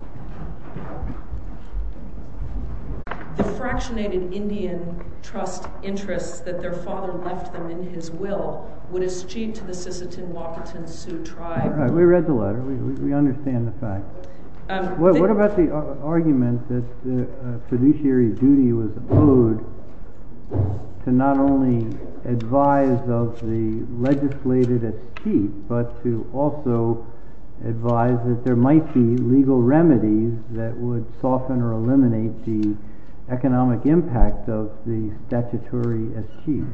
The fractionated Indian trust interests that their father left them in his will would as chief to the Sisseton-Wakanton Sioux tribe— We read the letter. We understand the fact. What about the argument that fiduciary duty was owed to not only advise of the legislated as chief, but to also advise that there might be legal remedies that would soften or eliminate the economic impact of the statutory as chief?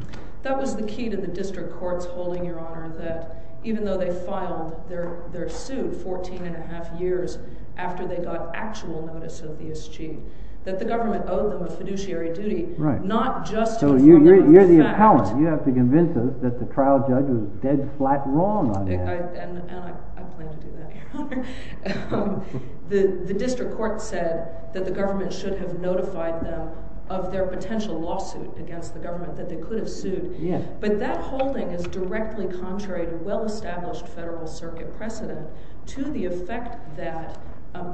That was the key to the district courts holding, Your Honor, that even though they filed their suit 14 and a half years after they got actual notice of the as chief, that the government owed them a fiduciary duty, not just to inform them of the fact— So you're the appellant. You have to convince us that the trial judge was dead flat wrong on that. I plan to do that, Your Honor. The district court said that the government should have notified them of their potential lawsuit against the government that they could have sued. But that holding is directly contrary to well-established Federal Circuit precedent to the effect that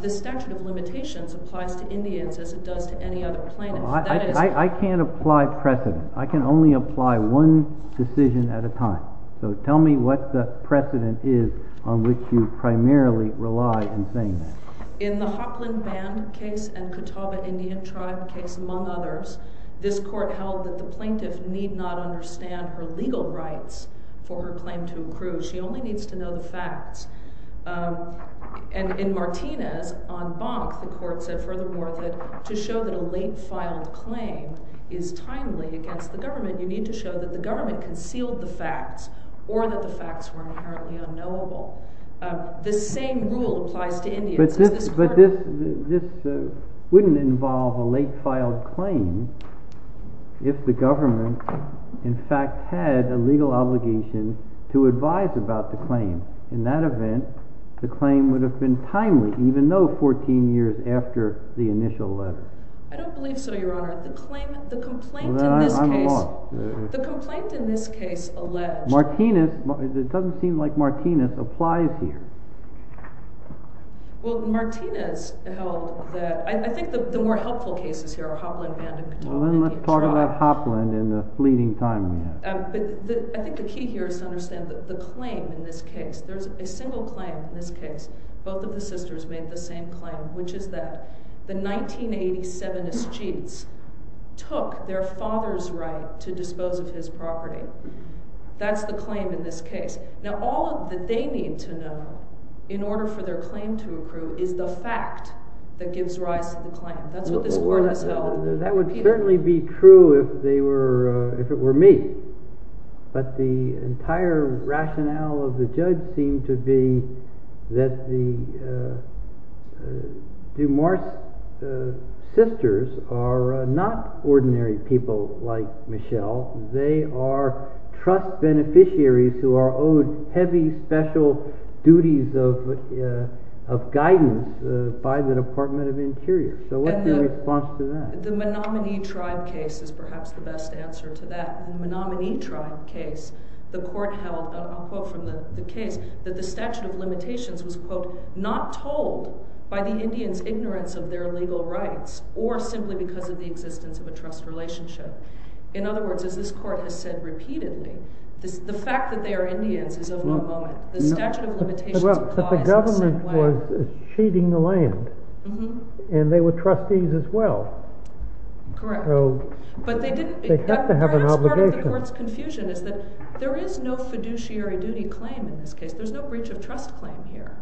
the statute of limitations applies to Indians as it does to any other plaintiff. I can't apply precedent. I can only apply one decision at a time. So tell me what the precedent is on which you primarily rely in saying that. In the Hopland Band case and Catawba Indian Tribe case, among others, this court held that the plaintiff need not understand her legal rights for her claim to improve. She only needs to know the facts. And in Martinez, on Bonk, the court said furthermore that to show that a late-filed claim is timely against the government, you need to show that the government concealed the facts or that the facts were inherently unknowable. The same rule applies to Indians. But this wouldn't involve a late-filed claim if the government, in fact, had a legal obligation to advise about the claim. In that event, the claim would have been timely, even though 14 years after the initial letter. I don't believe so, Your Honor. The complaint in this case alleged— It doesn't seem like Martinez applies here. Well, Martinez held that—I think the more helpful cases here are Hopland Band and Catawba Indian Tribe. Well, then let's talk about Hopland in the fleeting time we have. I think the key here is to understand that the claim in this case—there's a single claim in this case. Both of the sisters made the same claim, which is that the 1987 mischiefs took their father's right to dispose of his property. That's the claim in this case. Now, all that they need to know in order for their claim to approve is the fact that gives rise to the claim. That's what this court has held repeatedly. It would certainly be true if it were me, but the entire rationale of the judge seemed to be that the DuMars' sisters are not ordinary people like Michelle. They are trust beneficiaries who are owed heavy special duties of guidance by the Department of Interior. So what's your response to that? The Menominee Tribe case is perhaps the best answer to that. In the Menominee Tribe case, the court held—I'll quote from the case—that the statute of limitations was, quote, not told by the Indians' ignorance of their legal rights or simply because of the existence of a trust relationship. In other words, as this court has said repeatedly, the fact that they are Indians is of no moment. The statute of limitations applies in the same way. And they were trustees as well. Correct. So they have to have an obligation. But perhaps part of the court's confusion is that there is no fiduciary duty claim in this case. There's no breach of trust claim here.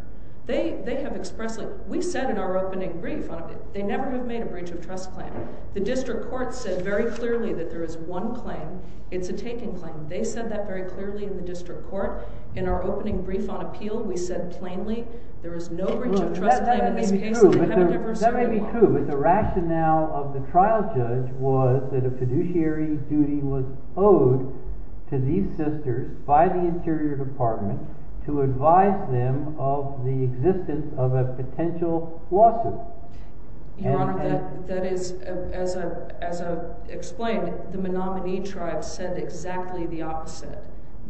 They have expressly—we said in our opening brief—they never have made a breach of trust claim. The district court said very clearly that there is one claim. It's a taken claim. They said that very clearly in the district court. In our opening brief on appeal, we said plainly there is no breach of trust claim in this case. That may be true, but the rationale of the trial judge was that a fiduciary duty was owed to these sisters by the Interior Department to advise them of the existence of a potential lawsuit. Your Honor, that is, as I explained, the Menominee Tribe said exactly the opposite.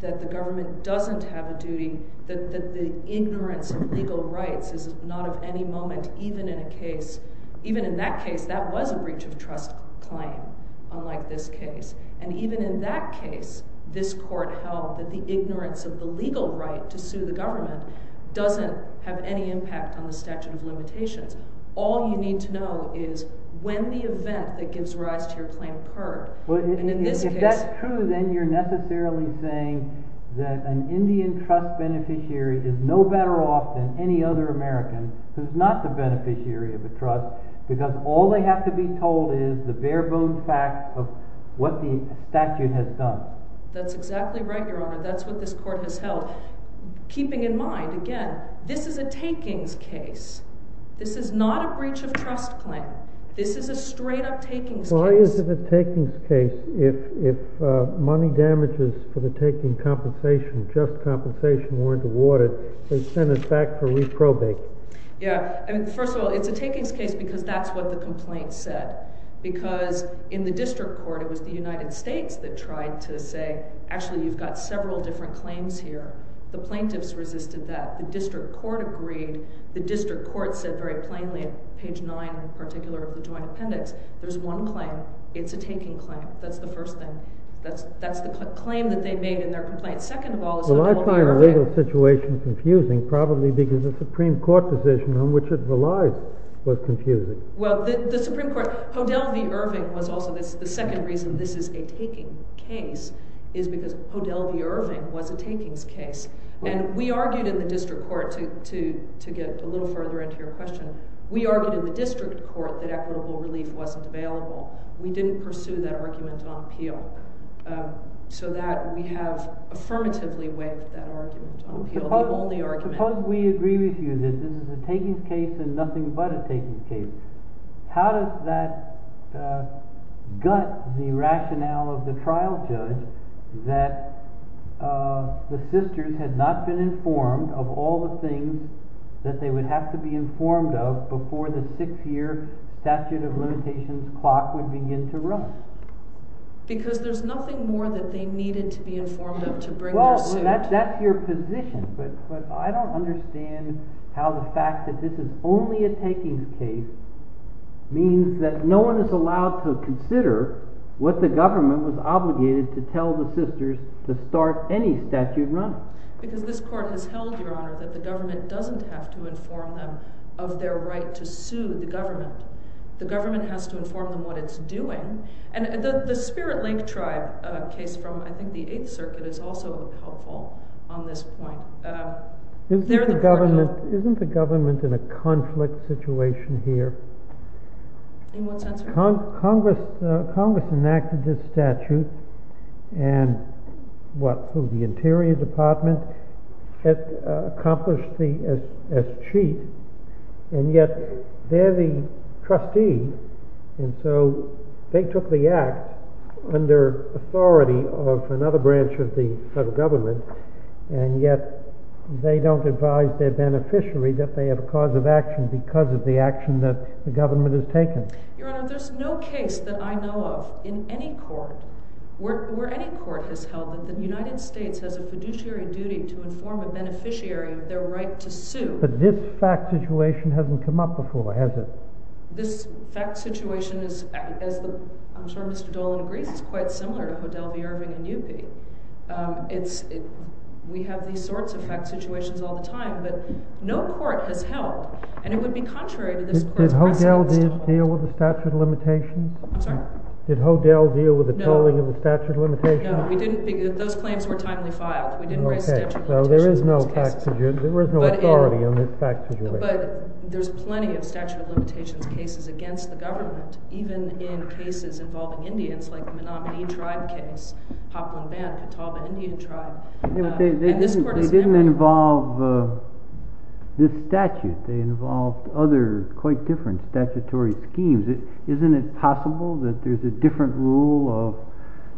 That the government doesn't have a duty, that the ignorance of legal rights is not of any moment, even in a case—even in that case, that was a breach of trust claim, unlike this case. And even in that case, this court held that the ignorance of the legal right to sue the government doesn't have any impact on the statute of limitations. All you need to know is when the event that gives rise to your claim occurred. And in this case— If that's true, then you're necessarily saying that an Indian trust beneficiary is no better off than any other American who's not the beneficiary of a trust because all they have to be told is the bare-bones facts of what the statute has done. That's exactly right, Your Honor. That's what this court has held. Keeping in mind, again, this is a takings case. This is not a breach of trust claim. This is a straight-up takings case. Why is it a takings case if money damages for the taking compensation, just compensation, weren't awarded, they send it back for reprobate? Yeah. First of all, it's a takings case because that's what the complaint said. Because in the district court, it was the United States that tried to say, actually, you've got several different claims here. The plaintiffs resisted that. The district court agreed. The district court said very plainly, page 9 in particular of the joint appendix, there's one claim. It's a taking claim. That's the first thing. That's the claim that they made in their complaint. Well, I find the legal situation confusing, probably because the Supreme Court decision on which it relies was confusing. Well, the Supreme Court, Podell v. Irving was also the second reason this is a taking case, is because Podell v. Irving was a takings case. And we argued in the district court, to get a little further into your question, we argued in the district court that equitable relief wasn't available. We didn't pursue that argument on appeal. So that we have affirmatively waived that argument on appeal, the only argument. Suppose we agree with you that this is a takings case and nothing but a takings case. How does that gut the rationale of the trial judge that the sisters had not been informed of all the things that they would have to be informed of before the six-year statute of limitations clock would begin to run? Because there's nothing more that they needed to be informed of to bring their suit. That's your position, but I don't understand how the fact that this is only a takings case means that no one is allowed to consider what the government was obligated to tell the sisters to start any statute running. Because this court has held, Your Honor, that the government doesn't have to inform them of their right to sue the government. The government has to inform them what it's doing. And the Spirit Lake Tribe case from, I think, the Eighth Circuit is also helpful on this point. Isn't the government in a conflict situation here? In what sense, Your Honor? And so they took the act under authority of another branch of the federal government, and yet they don't advise their beneficiary that they have a cause of action because of the action that the government has taken. Your Honor, there's no case that I know of in any court where any court has held that the United States has a fiduciary duty to inform a beneficiary of their right to sue. But this fact situation hasn't come up before, has it? Well, this fact situation, as Mr. Dolan agrees, is quite similar to Hodel v. Irving and Yupi. We have these sorts of fact situations all the time. But no court has held, and it would be contrary to this court's precedent. Did Hodel deal with the statute of limitations? I'm sorry? Did Hodel deal with the tolling of the statute of limitations? No. Those claims were timely filed. We didn't raise the statute of limitations in this case. OK. So there is no authority on this fact situation. But there's plenty of statute of limitations cases against the government, even in cases involving Indians, like the Menominee Tribe case, Papuan Band, Catawba Indian Tribe. They didn't involve this statute. They involved other quite different statutory schemes. Isn't it possible that there's a different rule of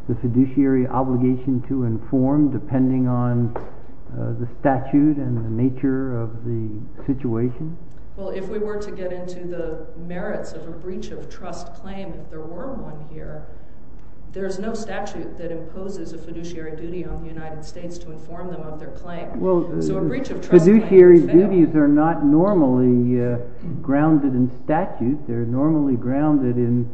the fiduciary obligation to inform, depending on the statute and the nature of the situation? Well, if we were to get into the merits of a breach of trust claim, if there were one here, there's no statute that imposes a fiduciary duty on the United States to inform them of their claim. Well, fiduciary duties are not normally grounded in statute. They're normally grounded in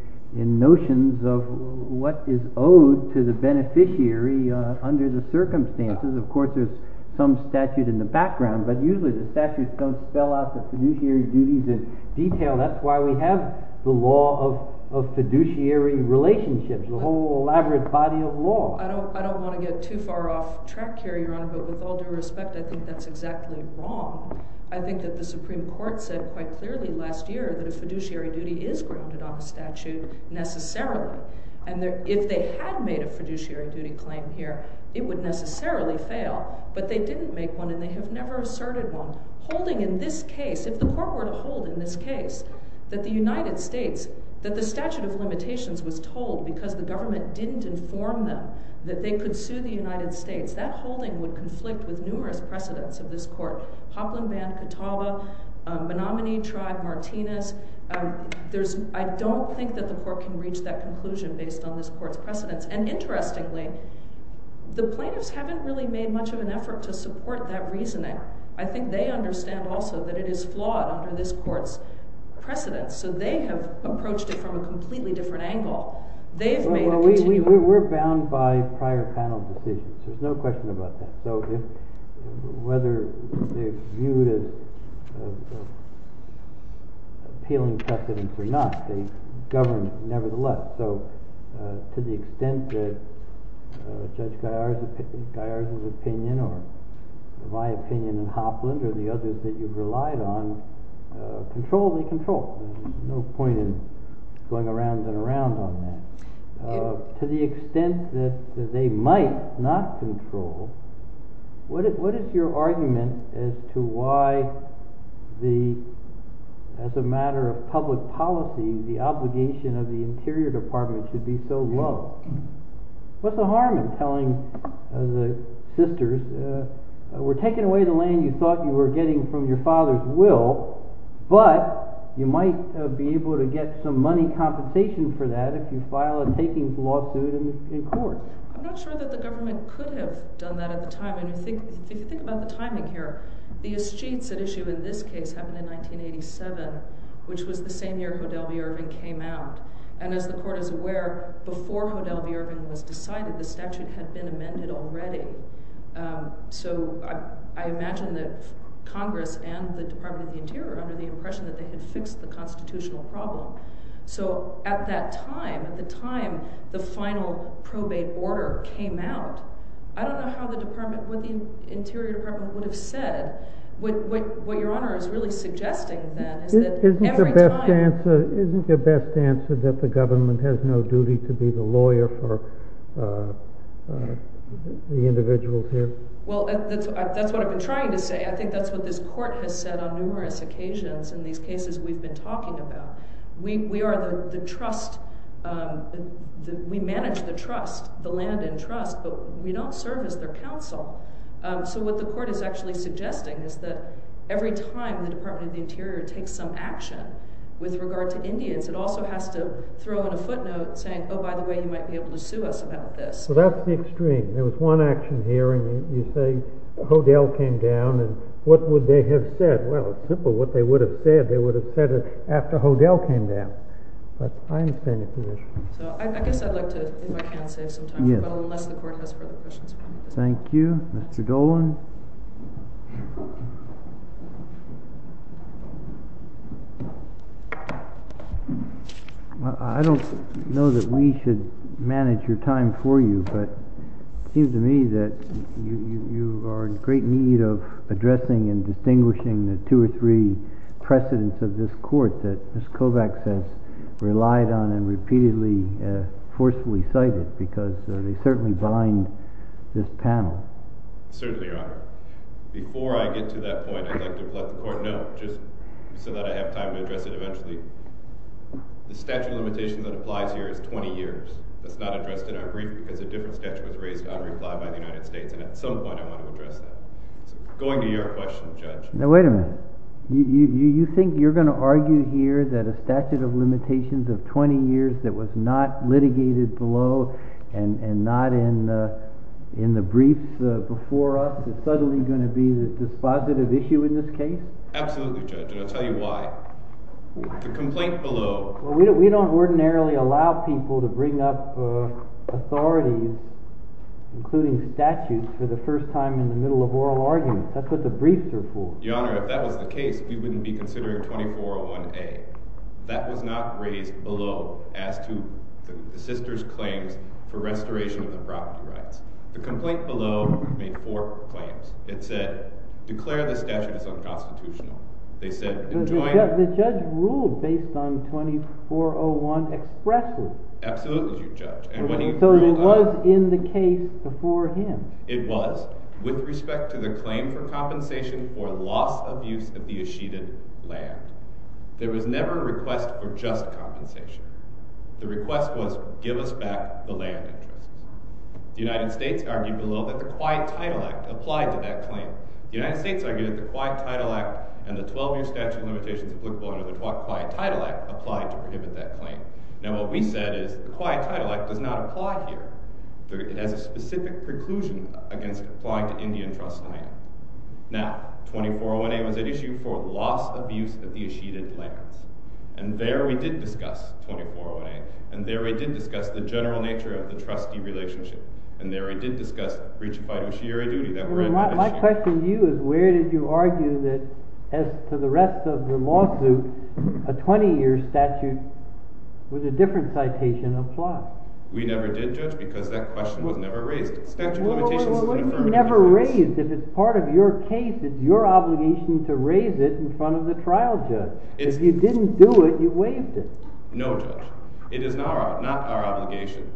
notions of what is owed to the beneficiary under the circumstances. Of course, there's some statute in the background. But usually, the statute doesn't spell out the fiduciary duties in detail. That's why we have the law of fiduciary relationships, the whole elaborate body of law. I don't want to get too far off track here, Your Honor. But with all due respect, I think that's exactly wrong. I think that the Supreme Court said quite clearly last year that a fiduciary duty is grounded on a statute necessarily. And if they had made a fiduciary duty claim here, it would necessarily fail. But they didn't make one, and they have never asserted one. Holding in this case, if the court were to hold in this case that the United States, that the statute of limitations was told because the government didn't inform them that they could sue the United States, that holding would conflict with numerous precedents of this court. Poplin banned Catawba. Bonamini tried Martinez. I don't think that the court can reach that conclusion based on this court's precedents. And interestingly, the plaintiffs haven't really made much of an effort to support that reasoning. I think they understand also that it is flawed under this court's precedents. So they have approached it from a completely different angle. They've made a continued— We're bound by prior panel decisions. There's no question about that. So whether they're viewed as appealing precedents or not, they govern nevertheless. So to the extent that Judge Gaillard's opinion or my opinion and Hopland's or the others that you've relied on control, they control. There's no point in going around and around on that. To the extent that they might not control, what is your argument as to why, as a matter of public policy, the obligation of the Interior Department should be so low? What's the harm in telling the sisters, we're taking away the land you thought you were getting from your father's will, but you might be able to get some money compensation for that if you file a takings lawsuit in court. I'm not sure that the government could have done that at the time. And if you think about the timing here, the escheats at issue in this case happened in 1987, which was the same year Hodel v. Irving came out. And as the court is aware, before Hodel v. Irving was decided, the statute had been amended already. So I imagine that Congress and the Department of the Interior, under the impression that they had fixed the constitutional problem. So at that time, at the time the final probate order came out, I don't know what the Interior Department would have said. What Your Honor is really suggesting, then, is that every time— Isn't the best answer that the government has no duty to be the lawyer for the individuals here? Well, that's what I've been trying to say. I think that's what this court has said on numerous occasions in these cases we've been talking about. We are the trust—we manage the trust, the land in trust, but we don't serve as their counsel. So what the court is actually suggesting is that every time the Department of the Interior takes some action with regard to Indians, it also has to throw in a footnote saying, oh, by the way, you might be able to sue us about this. So that's the extreme. There was one action here, and you say Hodel came down, and what would they have said? Well, it's simple. What they would have said, they would have said it after Hodel came down. But I understand your position. So I guess I'd like to, if I can, save some time, unless the court has further questions for me. Thank you. Mr. Dolan? I don't know that we should manage your time for you, but it seems to me that you are in great need of addressing and distinguishing the two or three precedents of this court that Ms. Kovacs has relied on and repeatedly forcefully cited, because they certainly bind this panel. They certainly are. Before I get to that point, I'd like to let the court know, just so that I have time to address it eventually, the statute of limitations that applies here is 20 years. That's not addressed in our brief, because a different statute was raised on reply by the United States, and at some point I want to address that. So going to your question, Judge. Now, wait a minute. You think you're going to argue here that a statute of limitations of 20 years that was not litigated below and not in the brief before us is suddenly going to be the dispositive issue in this case? Absolutely, Judge, and I'll tell you why. The complaint below… Well, we don't ordinarily allow people to bring up authorities, including statutes, for the first time in the middle of oral arguments. That's what the briefs are for. Your Honor, if that was the case, we wouldn't be considering 2401A. That was not raised below as to the sister's claims for restoration of the property rights. The complaint below made four claims. It said, declare the statute as unconstitutional. They said, enjoin… The judge ruled based on 2401 expressly. Absolutely, Judge. So it was in the case before him. It was with respect to the claim for compensation for loss of use of the eschated land. There was never a request for just compensation. The request was, give us back the land interest. The United States argued below that the Quiet Title Act applied to that claim. The United States argued that the Quiet Title Act and the 12-year statute of limitations applicable under the Quiet Title Act applied to prohibit that claim. Now, what we said is the Quiet Title Act does not apply here. It has a specific preclusion against applying to Indian trust land. Now, 2401A was at issue for loss of use of the eschated lands. And there we did discuss 2401A. And there we did discuss the general nature of the trustee relationship. And there we did discuss breach of fiduciary duty that were… My question to you is where did you argue that, as to the rest of the lawsuit, a 20-year statute with a different citation applied? We never did, Judge, because that question was never raised. Well, well, well, well, it was never raised. If it's part of your case, it's your obligation to raise it in front of the trial judge. If you didn't do it, you waived it. No, Judge. It is not our obligation.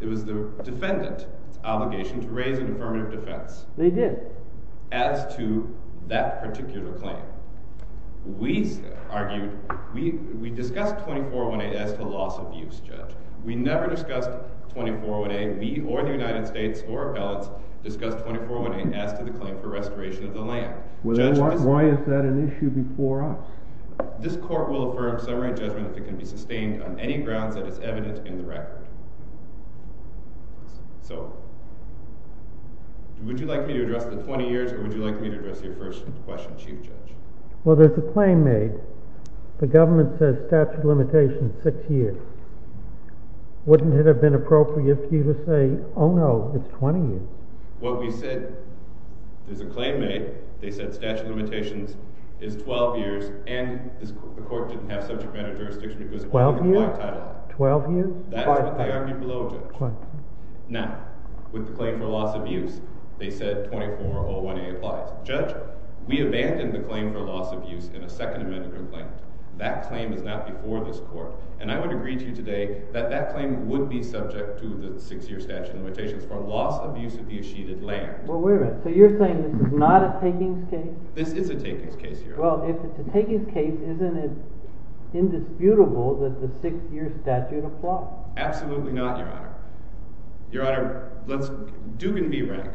It was the defendant's obligation to raise an affirmative defense. They did. As to that particular claim. We argued—we discussed 2401A as to loss of use, Judge. We never discussed 2401A. We or the United States or appellants discussed 2401A as to the claim for restoration of the land. Why is that an issue before us? This court will affirm summary judgment if it can be sustained on any grounds that is evident in the record. So, would you like me to address the 20 years, or would you like me to address your first question, Chief Judge? Well, there's a claim made. The government says statute of limitations is six years. Wouldn't it have been appropriate for you to say, oh, no, it's 20 years? What we said is a claim made. They said statute of limitations is 12 years, and the court didn't have subject matter jurisdiction. That's what they argued below, Judge. Now, with the claim for loss of use, they said 2401A applies. Judge, we abandoned the claim for loss of use in a Second Amendment complaint. That claim is not before this court, and I would agree to you today that that claim would be subject to the six-year statute of limitations for loss of use of the achieved land. Well, wait a minute. So you're saying this is not a takings case? This is a takings case, Your Honor. Well, if it's a takings case, isn't it indisputable that the six-year statute applies? Absolutely not, Your Honor. Your Honor, let's do it in B rank.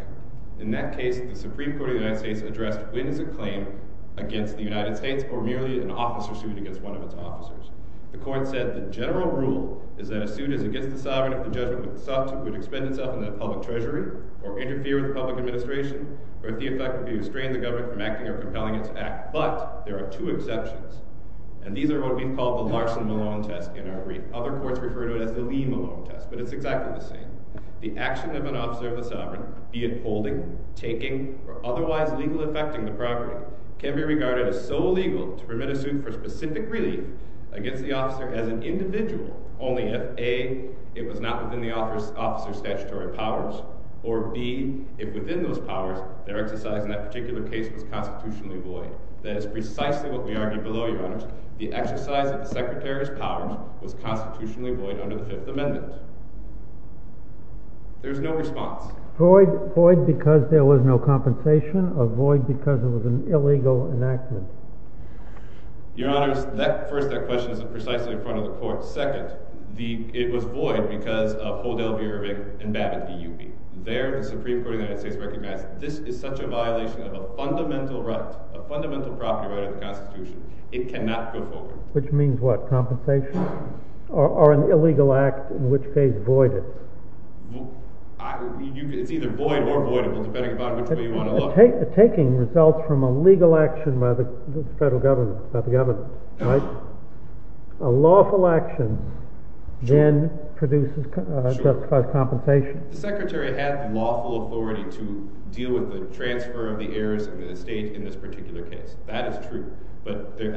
In that case, the Supreme Court of the United States addressed when is a claim against the United States or merely an officer sued against one of its officers. The court said the general rule is that as soon as it gets to the sovereign, if the judgment was sought to, it would expend itself in the public treasury or interfere with the public administration, or if the effect would be to restrain the government from acting or compelling it to act. But there are two exceptions, and these are what we call the Larson-Malone test in our brief. Other courts refer to it as the Lee-Malone test, but it's exactly the same. The action of an officer of the sovereign, be it holding, taking, or otherwise legally affecting the property, can be regarded as so legal to permit a suit for specific relief against the officer as an individual, only if, A, it was not within the officer's statutory powers, or, B, if within those powers, their exercise in that particular case was constitutionally void. That is precisely what we argue below, Your Honors. The exercise of the Secretary's powers was constitutionally void under the Fifth Amendment. There is no response. Void because there was no compensation or void because it was an illegal enactment? Your Honors, first, that question isn't precisely in front of the court. Second, it was void because of Hodel v. Irving and Babbitt v. UB. There, the Supreme Court of the United States recognized this is such a violation of a fundamental right, a fundamental property right of the Constitution, it cannot go forward. Which means what? Compensation? Or an illegal act in which case void is? It's either void or voidable, depending upon which way you want to look. Taking results from a legal action by the federal government, by the government, right? A lawful action then produces, justifies compensation. The Secretary had lawful authority to deal with the transfer of the heirs of the estate in this particular case. That is true. But the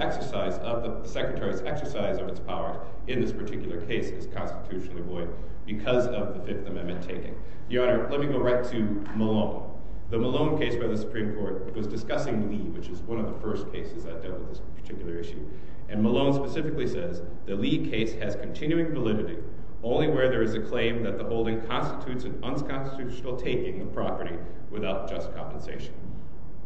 Secretary's exercise of its power in this particular case is constitutionally void because of the Fifth Amendment taking. Your Honor, let me go right to Malone. The Malone case by the Supreme Court was discussing Lee, which is one of the first cases that dealt with this particular issue. And Malone specifically says, the Lee case has continuing validity only where there is a claim that the holding constitutes an unconstitutional taking of property without just compensation.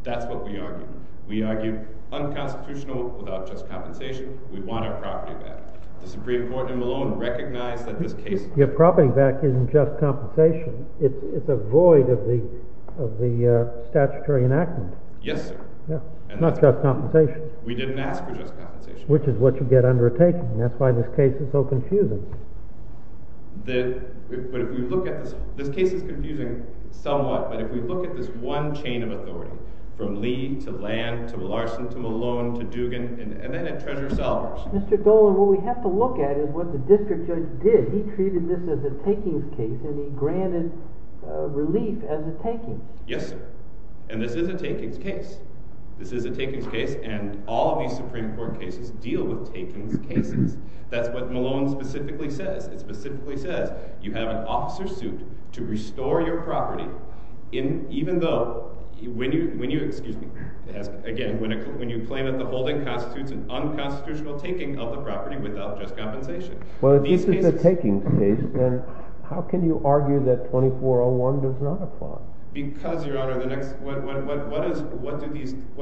That's what we argued. We argued unconstitutional without just compensation. We want our property back. The Supreme Court in Malone recognized that this case— Your property back isn't just compensation. It's a void of the statutory enactment. Yes, sir. It's not just compensation. We didn't ask for just compensation. Which is what you get under a taking. That's why this case is so confusing. This case is confusing somewhat, but if we look at this one chain of authority, from Lee to Land to Larson to Malone to Dugan, and then at Treasurer Selvers— Mr. Dolan, what we have to look at is what the district judge did. He treated this as a takings case, and he granted relief as a takings. Yes, sir. And this is a takings case. This is a takings case, and all of these Supreme Court cases deal with takings cases. That's what Malone specifically says. It specifically says you have an officer suit to restore your property, even though—excuse me. Again, when you claim that the holding constitutes an unconstitutional taking of the property without just compensation. Well, if this is a takings case, then how can you argue that 2401 does not apply? Because, Your Honor, the next—what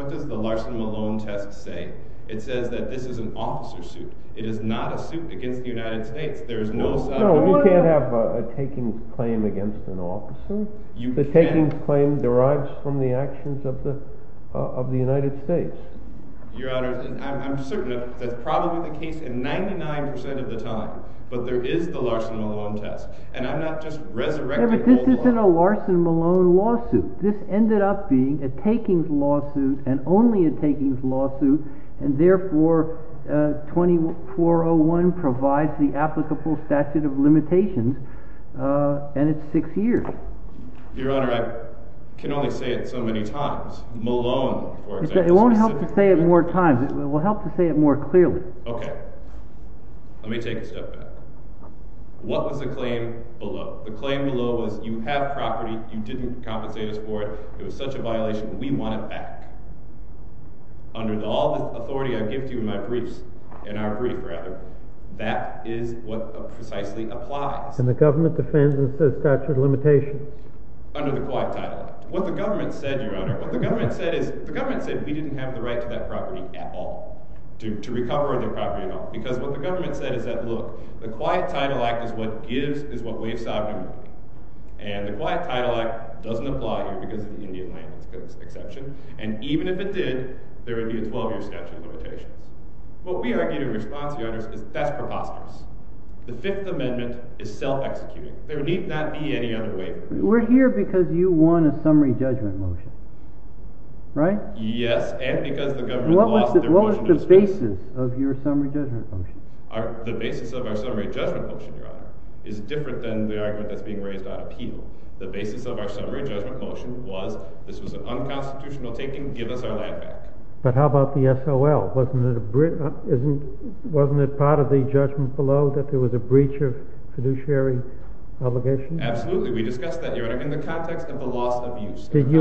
does the Larson-Malone test say? It says that this is an officer suit. It is not a suit against the United States. There is no— No, you can't have a takings claim against an officer. The takings claim derives from the actions of the United States. Your Honor, I'm certain that's probably the case 99 percent of the time, but there is the Larson-Malone test. And I'm not just resurrecting— But this isn't a Larson-Malone lawsuit. This ended up being a takings lawsuit and only a takings lawsuit, and therefore 2401 provides the applicable statute of limitations, and it's six years. Your Honor, I can only say it so many times. Malone, for example, specifically— It won't help to say it more times. It will help to say it more clearly. Okay. Let me take a step back. What was the claim below? The claim below was you have property. You didn't compensate us for it. It was such a violation. We want it back. Under all the authority I give to you in my briefs—in our brief, rather, that is what precisely applies. And the government defends and says statute of limitations. Under the Quiet Title Act. What the government said, Your Honor, what the government said is—the government said we didn't have the right to that property at all, to recover their property at all. Because what the government said is that, look, the Quiet Title Act is what gives—is what waives sovereignty. And the Quiet Title Act doesn't apply here because of the Indian language exception. And even if it did, there would be a 12-year statute of limitations. What we argue in response, Your Honor, is that's preposterous. The Fifth Amendment is self-executing. There need not be any other way. We're here because you won a summary judgment motion, right? Yes, and because the government lost their motion. What was the basis of your summary judgment motion? The basis of our summary judgment motion, Your Honor, is different than the argument that's being raised on appeal. The basis of our summary judgment motion was this was an unconstitutional taking. Give us our land back. But how about the SOL? Wasn't it part of the judgment below that there was a breach of fiduciary obligation? Absolutely. We discussed that, Your Honor, in the context of the loss of use. Did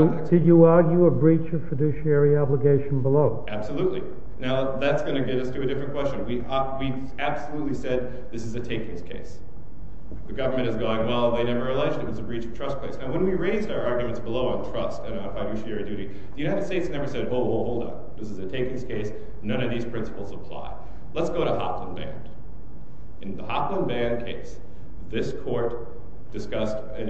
you argue a breach of fiduciary obligation below? Absolutely. Now, that's going to get us to a different question. We absolutely said this is a takings case. The government is going, well, they never alleged it was a breach of trust case. Now, when we raised our arguments below on trust and fiduciary duty, the United States never said, oh, well, hold on. This is a takings case. None of these principles apply. Let's go to Hopland Band. In the Hopland Band case, this court discussed a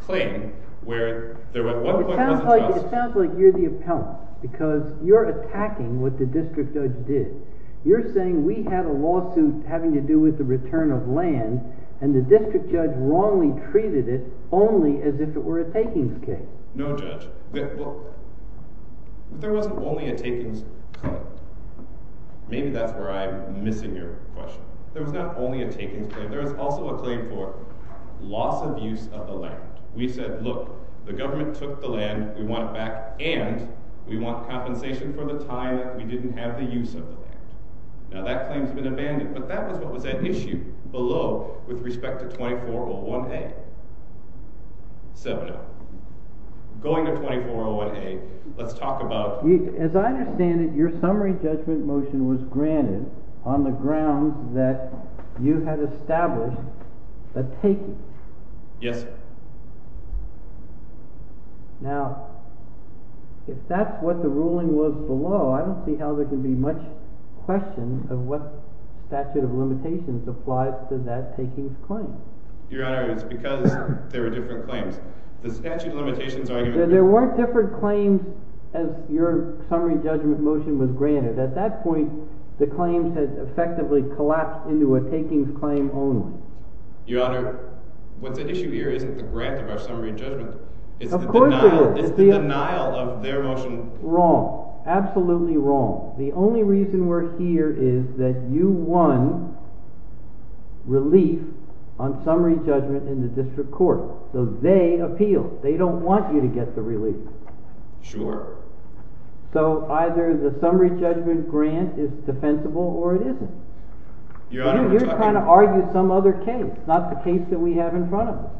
claim where there at one point wasn't trust. It sounds like you're the appellant because you're attacking what the district judge did. You're saying we have a lawsuit having to do with the return of land, and the district judge wrongly treated it only as if it were a takings case. No, Judge. There wasn't only a takings claim. Maybe that's where I'm missing your question. There was not only a takings claim. There was also a claim for loss of use of the land. We said, look, the government took the land. We want it back, and we want compensation for the time that we didn't have the use of the land. Now, that claim's been abandoned, but that was what was at issue below with respect to 2401A. 7-0. Going to 2401A, let's talk about— As I understand it, your summary judgment motion was granted on the grounds that you had established a takings. Yes. Now, if that's what the ruling was below, I don't see how there can be much question of what statute of limitations applies to that takings claim. Your Honor, it's because there were different claims. The statute of limitations argument— There weren't different claims as your summary judgment motion was granted. At that point, the claims had effectively collapsed into a takings claim only. Your Honor, what's at issue here isn't the grant of our summary judgment. Of course it is. It's the denial of their motion. Wrong. Absolutely wrong. The only reason we're here is that you won relief on summary judgment in the district court, so they appealed. They don't want you to get the relief. Sure. So either the summary judgment grant is defensible or it isn't. You're trying to argue some other case, not the case that we have in front of us.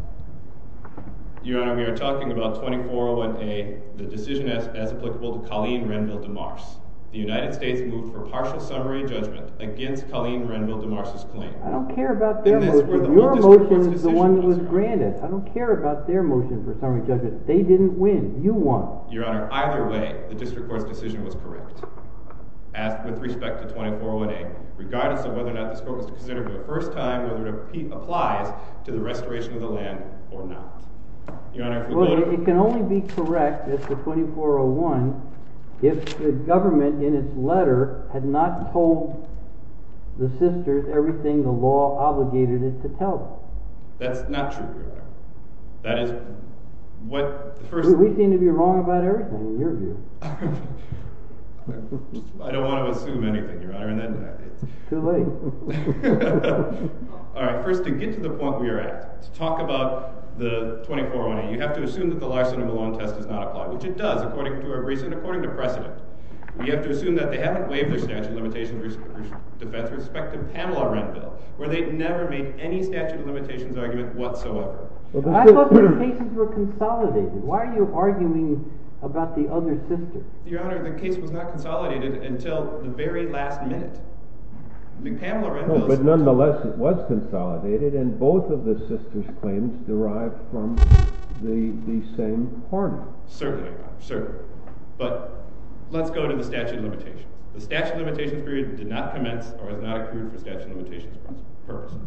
Your Honor, we are talking about 2401A, the decision as applicable to Colleen Renville DeMars. The United States moved for partial summary judgment against Colleen Renville DeMars' claim. I don't care about their motion. Your motion is the one that was granted. I don't care about their motion for summary judgment. They didn't win. You won. Your Honor, either way, the district court's decision was correct. With respect to 2401A, regardless of whether or not this court was to consider for the first time whether it applies to the restoration of the land or not. Your Honor, if we go to— Well, it can only be correct if the 2401, if the government in its letter had not told the sisters everything the law obligated it to tell them. That's not true, Your Honor. That is what the first— We seem to be wrong about everything, in your view. I don't want to assume anything, Your Honor, and that is— Too late. All right. First, to get to the point we are at, to talk about the 2401A, you have to assume that the Larson and Malone test does not apply, which it does, according to our recent, according to precedent. We have to assume that they haven't waived their statute of limitations for defense with respect to Pamela Renville, where they never made any statute of limitations argument whatsoever. I thought their cases were consolidated. Why are you arguing about the other sisters? Your Honor, the case was not consolidated until the very last minute. Pamela Renville— But nonetheless, it was consolidated, and both of the sisters' claims derived from the same party. Certainly, Your Honor, certainly. But let's go to the statute of limitations. The statute of limitations period did not commence or has not occurred for statute of limitations purposes.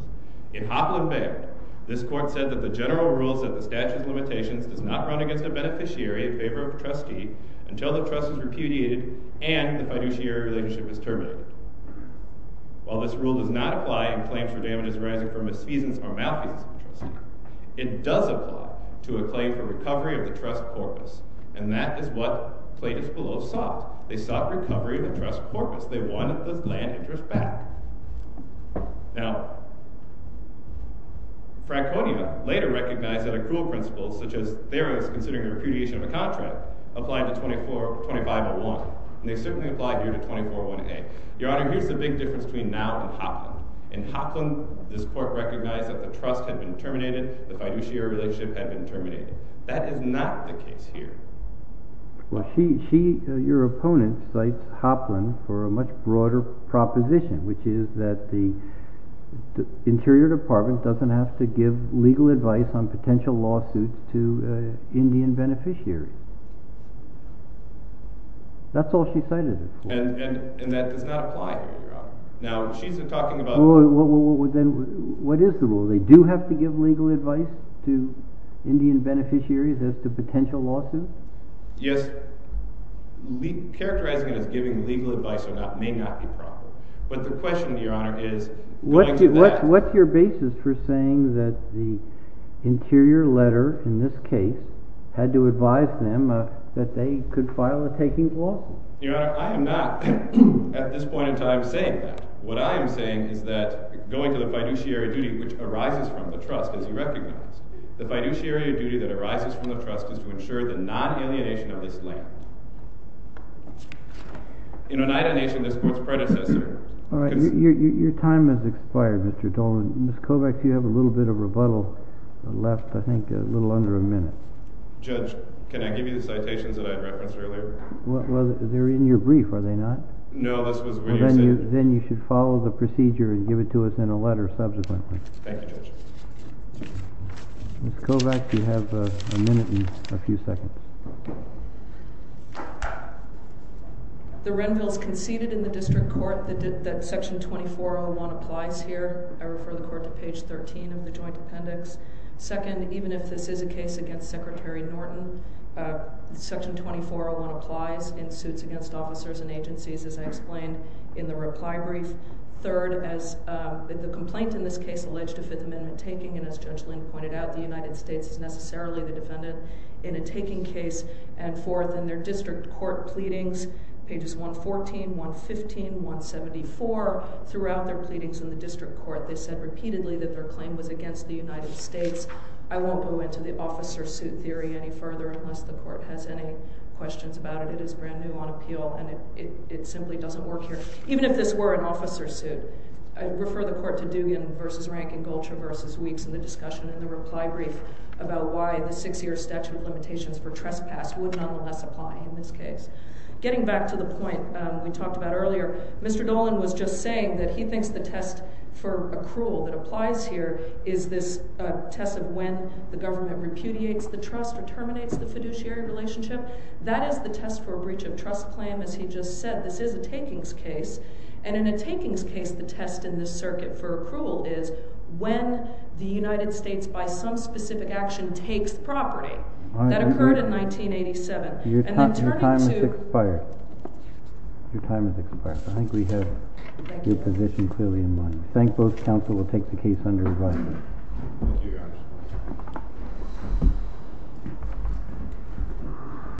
In Hoplin v. Baird, this court said that the general rules of the statute of limitations does not run against a beneficiary in favor of a trustee until the trust is repudiated and the fiduciary relationship is terminated. While this rule does not apply in claims for damages arising from misfeasance or malfeasance of the trustee, it does apply to a claim for recovery of the trust's corpus, and that is what plaintiffs below sought. They sought recovery of the trust's corpus. They wanted the land interest back. Now, Fraconia later recognized that accrual principles, such as Theros considering repudiation of a contract, applied to § 2425-01, and they certainly applied here to § 241A. Your Honor, here's the big difference between now and Hoplin. In Hoplin, this court recognized that the trust had been terminated, the fiduciary relationship had been terminated. That is not the case here. Well, she, your opponent, cites Hoplin for a much broader proposition, which is that the Interior Department doesn't have to give legal advice on potential lawsuits to Indian beneficiaries. That's all she cited it for. And that does not apply here, Your Honor. Now, she's talking about— What is the rule? They do have to give legal advice to Indian beneficiaries as to potential lawsuits? Yes. Characterizing it as giving legal advice may not be proper. But the question, Your Honor, is going to that— What's your basis for saying that the Interior letter, in this case, had to advise them that they could file a takings lawsuit? Your Honor, I am not, at this point in time, saying that. What I am saying is that going to the fiduciary duty, which arises from the trust, as you recognize, the fiduciary duty that arises from the trust is to ensure the non-alienation of this land. In Oneida Nation, this court's predecessor— All right, your time has expired, Mr. Dolan. Ms. Kovacs, you have a little bit of rebuttal left, I think a little under a minute. Judge, can I give you the citations that I referenced earlier? Well, they're in your brief, are they not? No, this was when you said— Then you should follow the procedure and give it to us in a letter subsequently. Thank you, Judge. Ms. Kovacs, you have a minute and a few seconds. The Renville's conceded in the District Court that Section 2401 applies here. I refer the Court to page 13 of the Joint Appendix. Second, even if this is a case against Secretary Norton, Section 2401 applies in suits against officers and agencies, as I explained in the reply brief. Third, the complaint in this case alleged a Fifth Amendment taking, and as Judge Lynn pointed out, the United States is necessarily the defendant in a taking case. And fourth, in their District Court pleadings, pages 114, 115, 174, throughout their pleadings in the District Court, they said repeatedly that their claim was against the United States. I won't go into the officer suit theory any further, unless the Court has any questions about it. It is brand new on appeal, and it simply doesn't work here. Even if this were an officer suit, I refer the Court to Duggan v. Rankin, Gulcher v. Weeks in the discussion in the reply brief about why the six-year statute of limitations for trespass would nonetheless apply in this case. Getting back to the point we talked about earlier, Mr. Dolan was just saying that he thinks the test for accrual that applies here is this test of when the government repudiates the trust or terminates the fiduciary relationship. That is the test for a breach of trust claim, as he just said. This is a takings case, and in a takings case, the test in this circuit for accrual is when the United States, by some specific action, takes property. That occurred in 1987. Your time has expired. I think we have your position clearly in mind. I thank both counsel. We'll take the case under review.